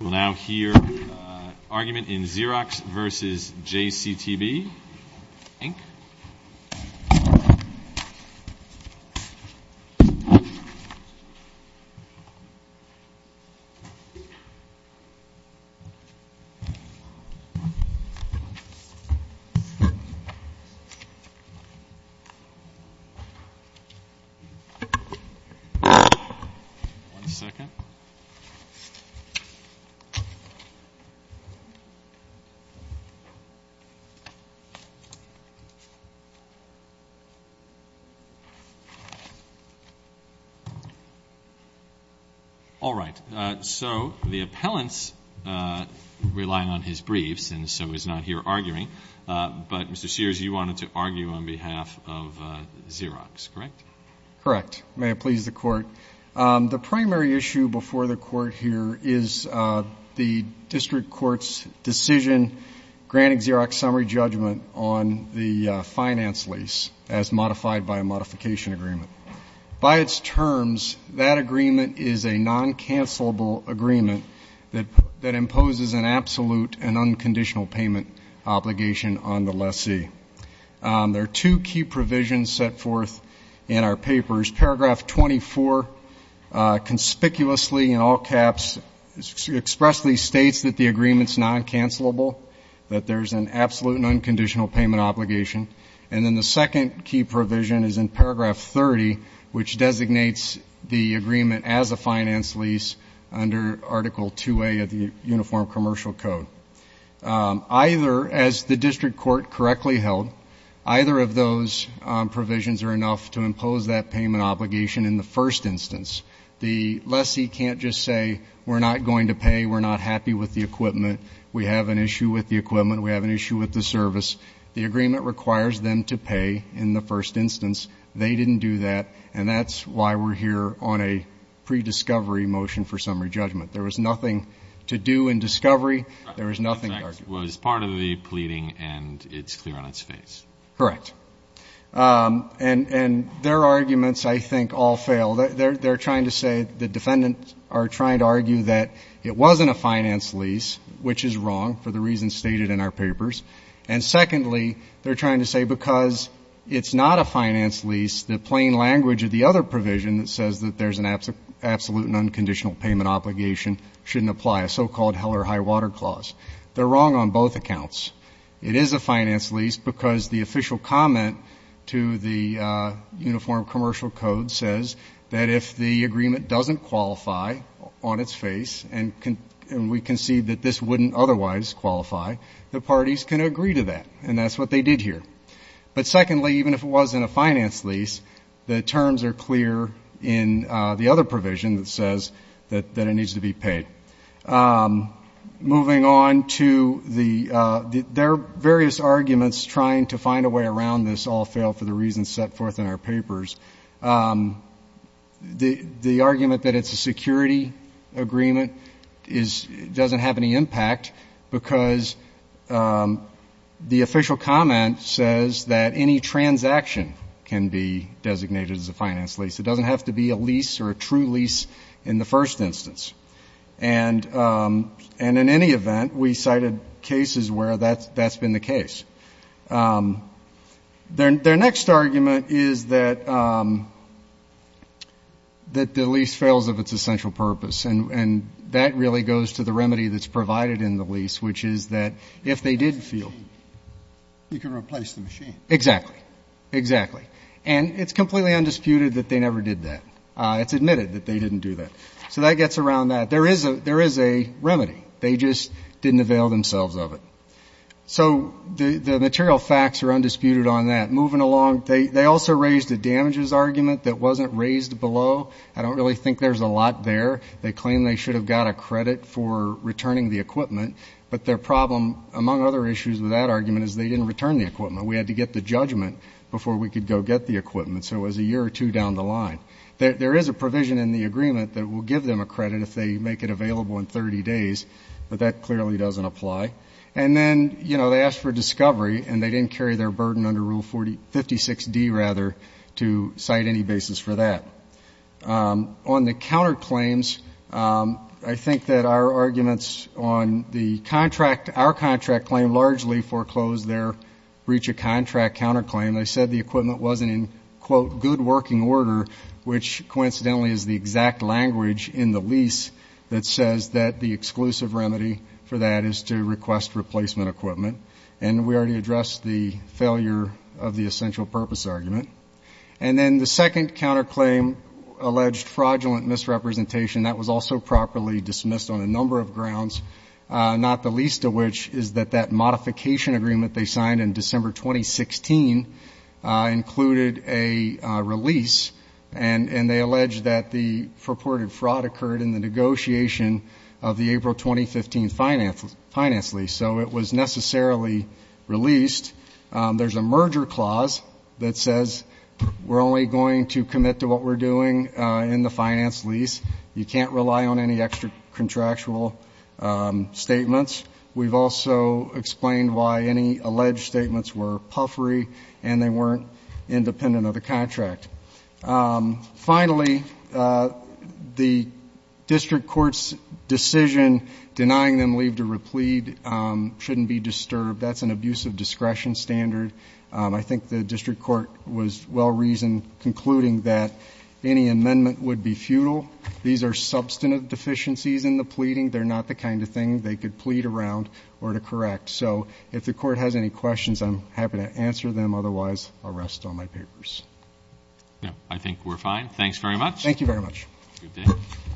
We'll now hear an argument in Xerox v. JCTB Inc. Mr. Sears, you wanted to argue on behalf of Xerox, correct? Correct. May it please the Court? The primary issue before the Court here is the District Court's decision granting Xerox summary judgment on the finance lease as modified by a modification agreement. By its terms, that agreement is a non-cancellable agreement that imposes an absolute and unconditional payment obligation on the lessee. There are two key provisions set forth in our papers. Paragraph 24 conspicuously, in all caps, expressly states that the agreement's non-cancellable, that there's an absolute and unconditional payment obligation. And then the second key provision is in paragraph 30, which designates the agreement as a finance lease under Article 2A of the Uniform Commercial Code. Either, as the District Court correctly held, either of those provisions are enough to impose that payment obligation in the first instance. The lessee can't just say, we're not going to pay, we're not happy with the equipment, we have an issue with the equipment, we have an issue with the service. The agreement requires them to pay in the first instance. They didn't do that, and that's why we're here on a pre-discovery motion for summary judgment. There was nothing to do in discovery. There was nothing to argue. It was part of the pleading, and it's clear on its face. Correct. And their arguments, I think, all fail. They're trying to say, the defendants are trying to argue that it wasn't a finance lease, which is wrong, for the reasons stated in our papers. And secondly, they're trying to say because it's not a finance lease, the plain language of the other provision that says that there's an absolute and unconditional payment obligation shouldn't apply, a so-called Heller High Water Clause. They're wrong on both accounts. It is a finance lease because the official comment to the Uniform Commercial Code says that if the agreement doesn't qualify on its face, and we concede that this wouldn't otherwise qualify, the parties can agree to that, and that's what they did here. But secondly, even if it wasn't a finance lease, the terms are clear in the other provision that says that it needs to be paid. Moving on to the — there are various arguments trying to find a way around this all fail for the reasons set forth in our papers. The argument that it's a security agreement doesn't have any impact because the official comment says that any transaction can be designated as a finance lease. It doesn't have to be a lease or a true lease in the first instance. And in any event, we cited cases where that's been the case. Their next argument is that the lease fails of its essential purpose, and that really goes to the remedy that's provided in the lease, which is that if they did fail — You can replace the machine. Exactly. Exactly. And it's completely undisputed that they never did that. It's admitted that they didn't do that. So that gets around that. There is a remedy. They just didn't avail themselves of it. So the material facts are undisputed on that. Moving along, they also raised a damages argument that wasn't raised below. I don't really think there's a lot there. They claim they should have got a credit for returning the equipment. But their problem, among other issues with that argument, is they didn't return the equipment. We had to get the judgment before we could go get the equipment. So it was a year or two down the line. There is a provision in the agreement that will give them a credit if they make it available in 30 days, but that clearly doesn't apply. And then, you know, they asked for discovery, and they didn't carry their burden under Rule 56D to cite any basis for that. On the counterclaims, I think that our arguments on the contract, our contract claim, largely foreclosed their breach of contract counterclaim. which coincidentally is the exact language in the lease that says that the exclusive remedy for that is to request replacement equipment. And we already addressed the failure of the essential purpose argument. And then the second counterclaim alleged fraudulent misrepresentation. That was also properly dismissed on a number of grounds, not the least of which is that that modification agreement they signed in December 2016 included a release, and they alleged that the purported fraud occurred in the negotiation of the April 2015 finance lease. So it was necessarily released. There's a merger clause that says we're only going to commit to what we're doing in the finance lease. You can't rely on any extra contractual statements. We've also explained why any alleged statements were puffery and they weren't independent of the contract. Finally, the district court's decision denying them leave to replead shouldn't be disturbed. That's an abuse of discretion standard. I think the district court was well-reasoned, concluding that any amendment would be futile. These are substantive deficiencies in the pleading. So if the court has any questions, I'm happy to answer them. Otherwise, I'll rest on my papers. I think we're fine. Thanks very much. Thank you very much.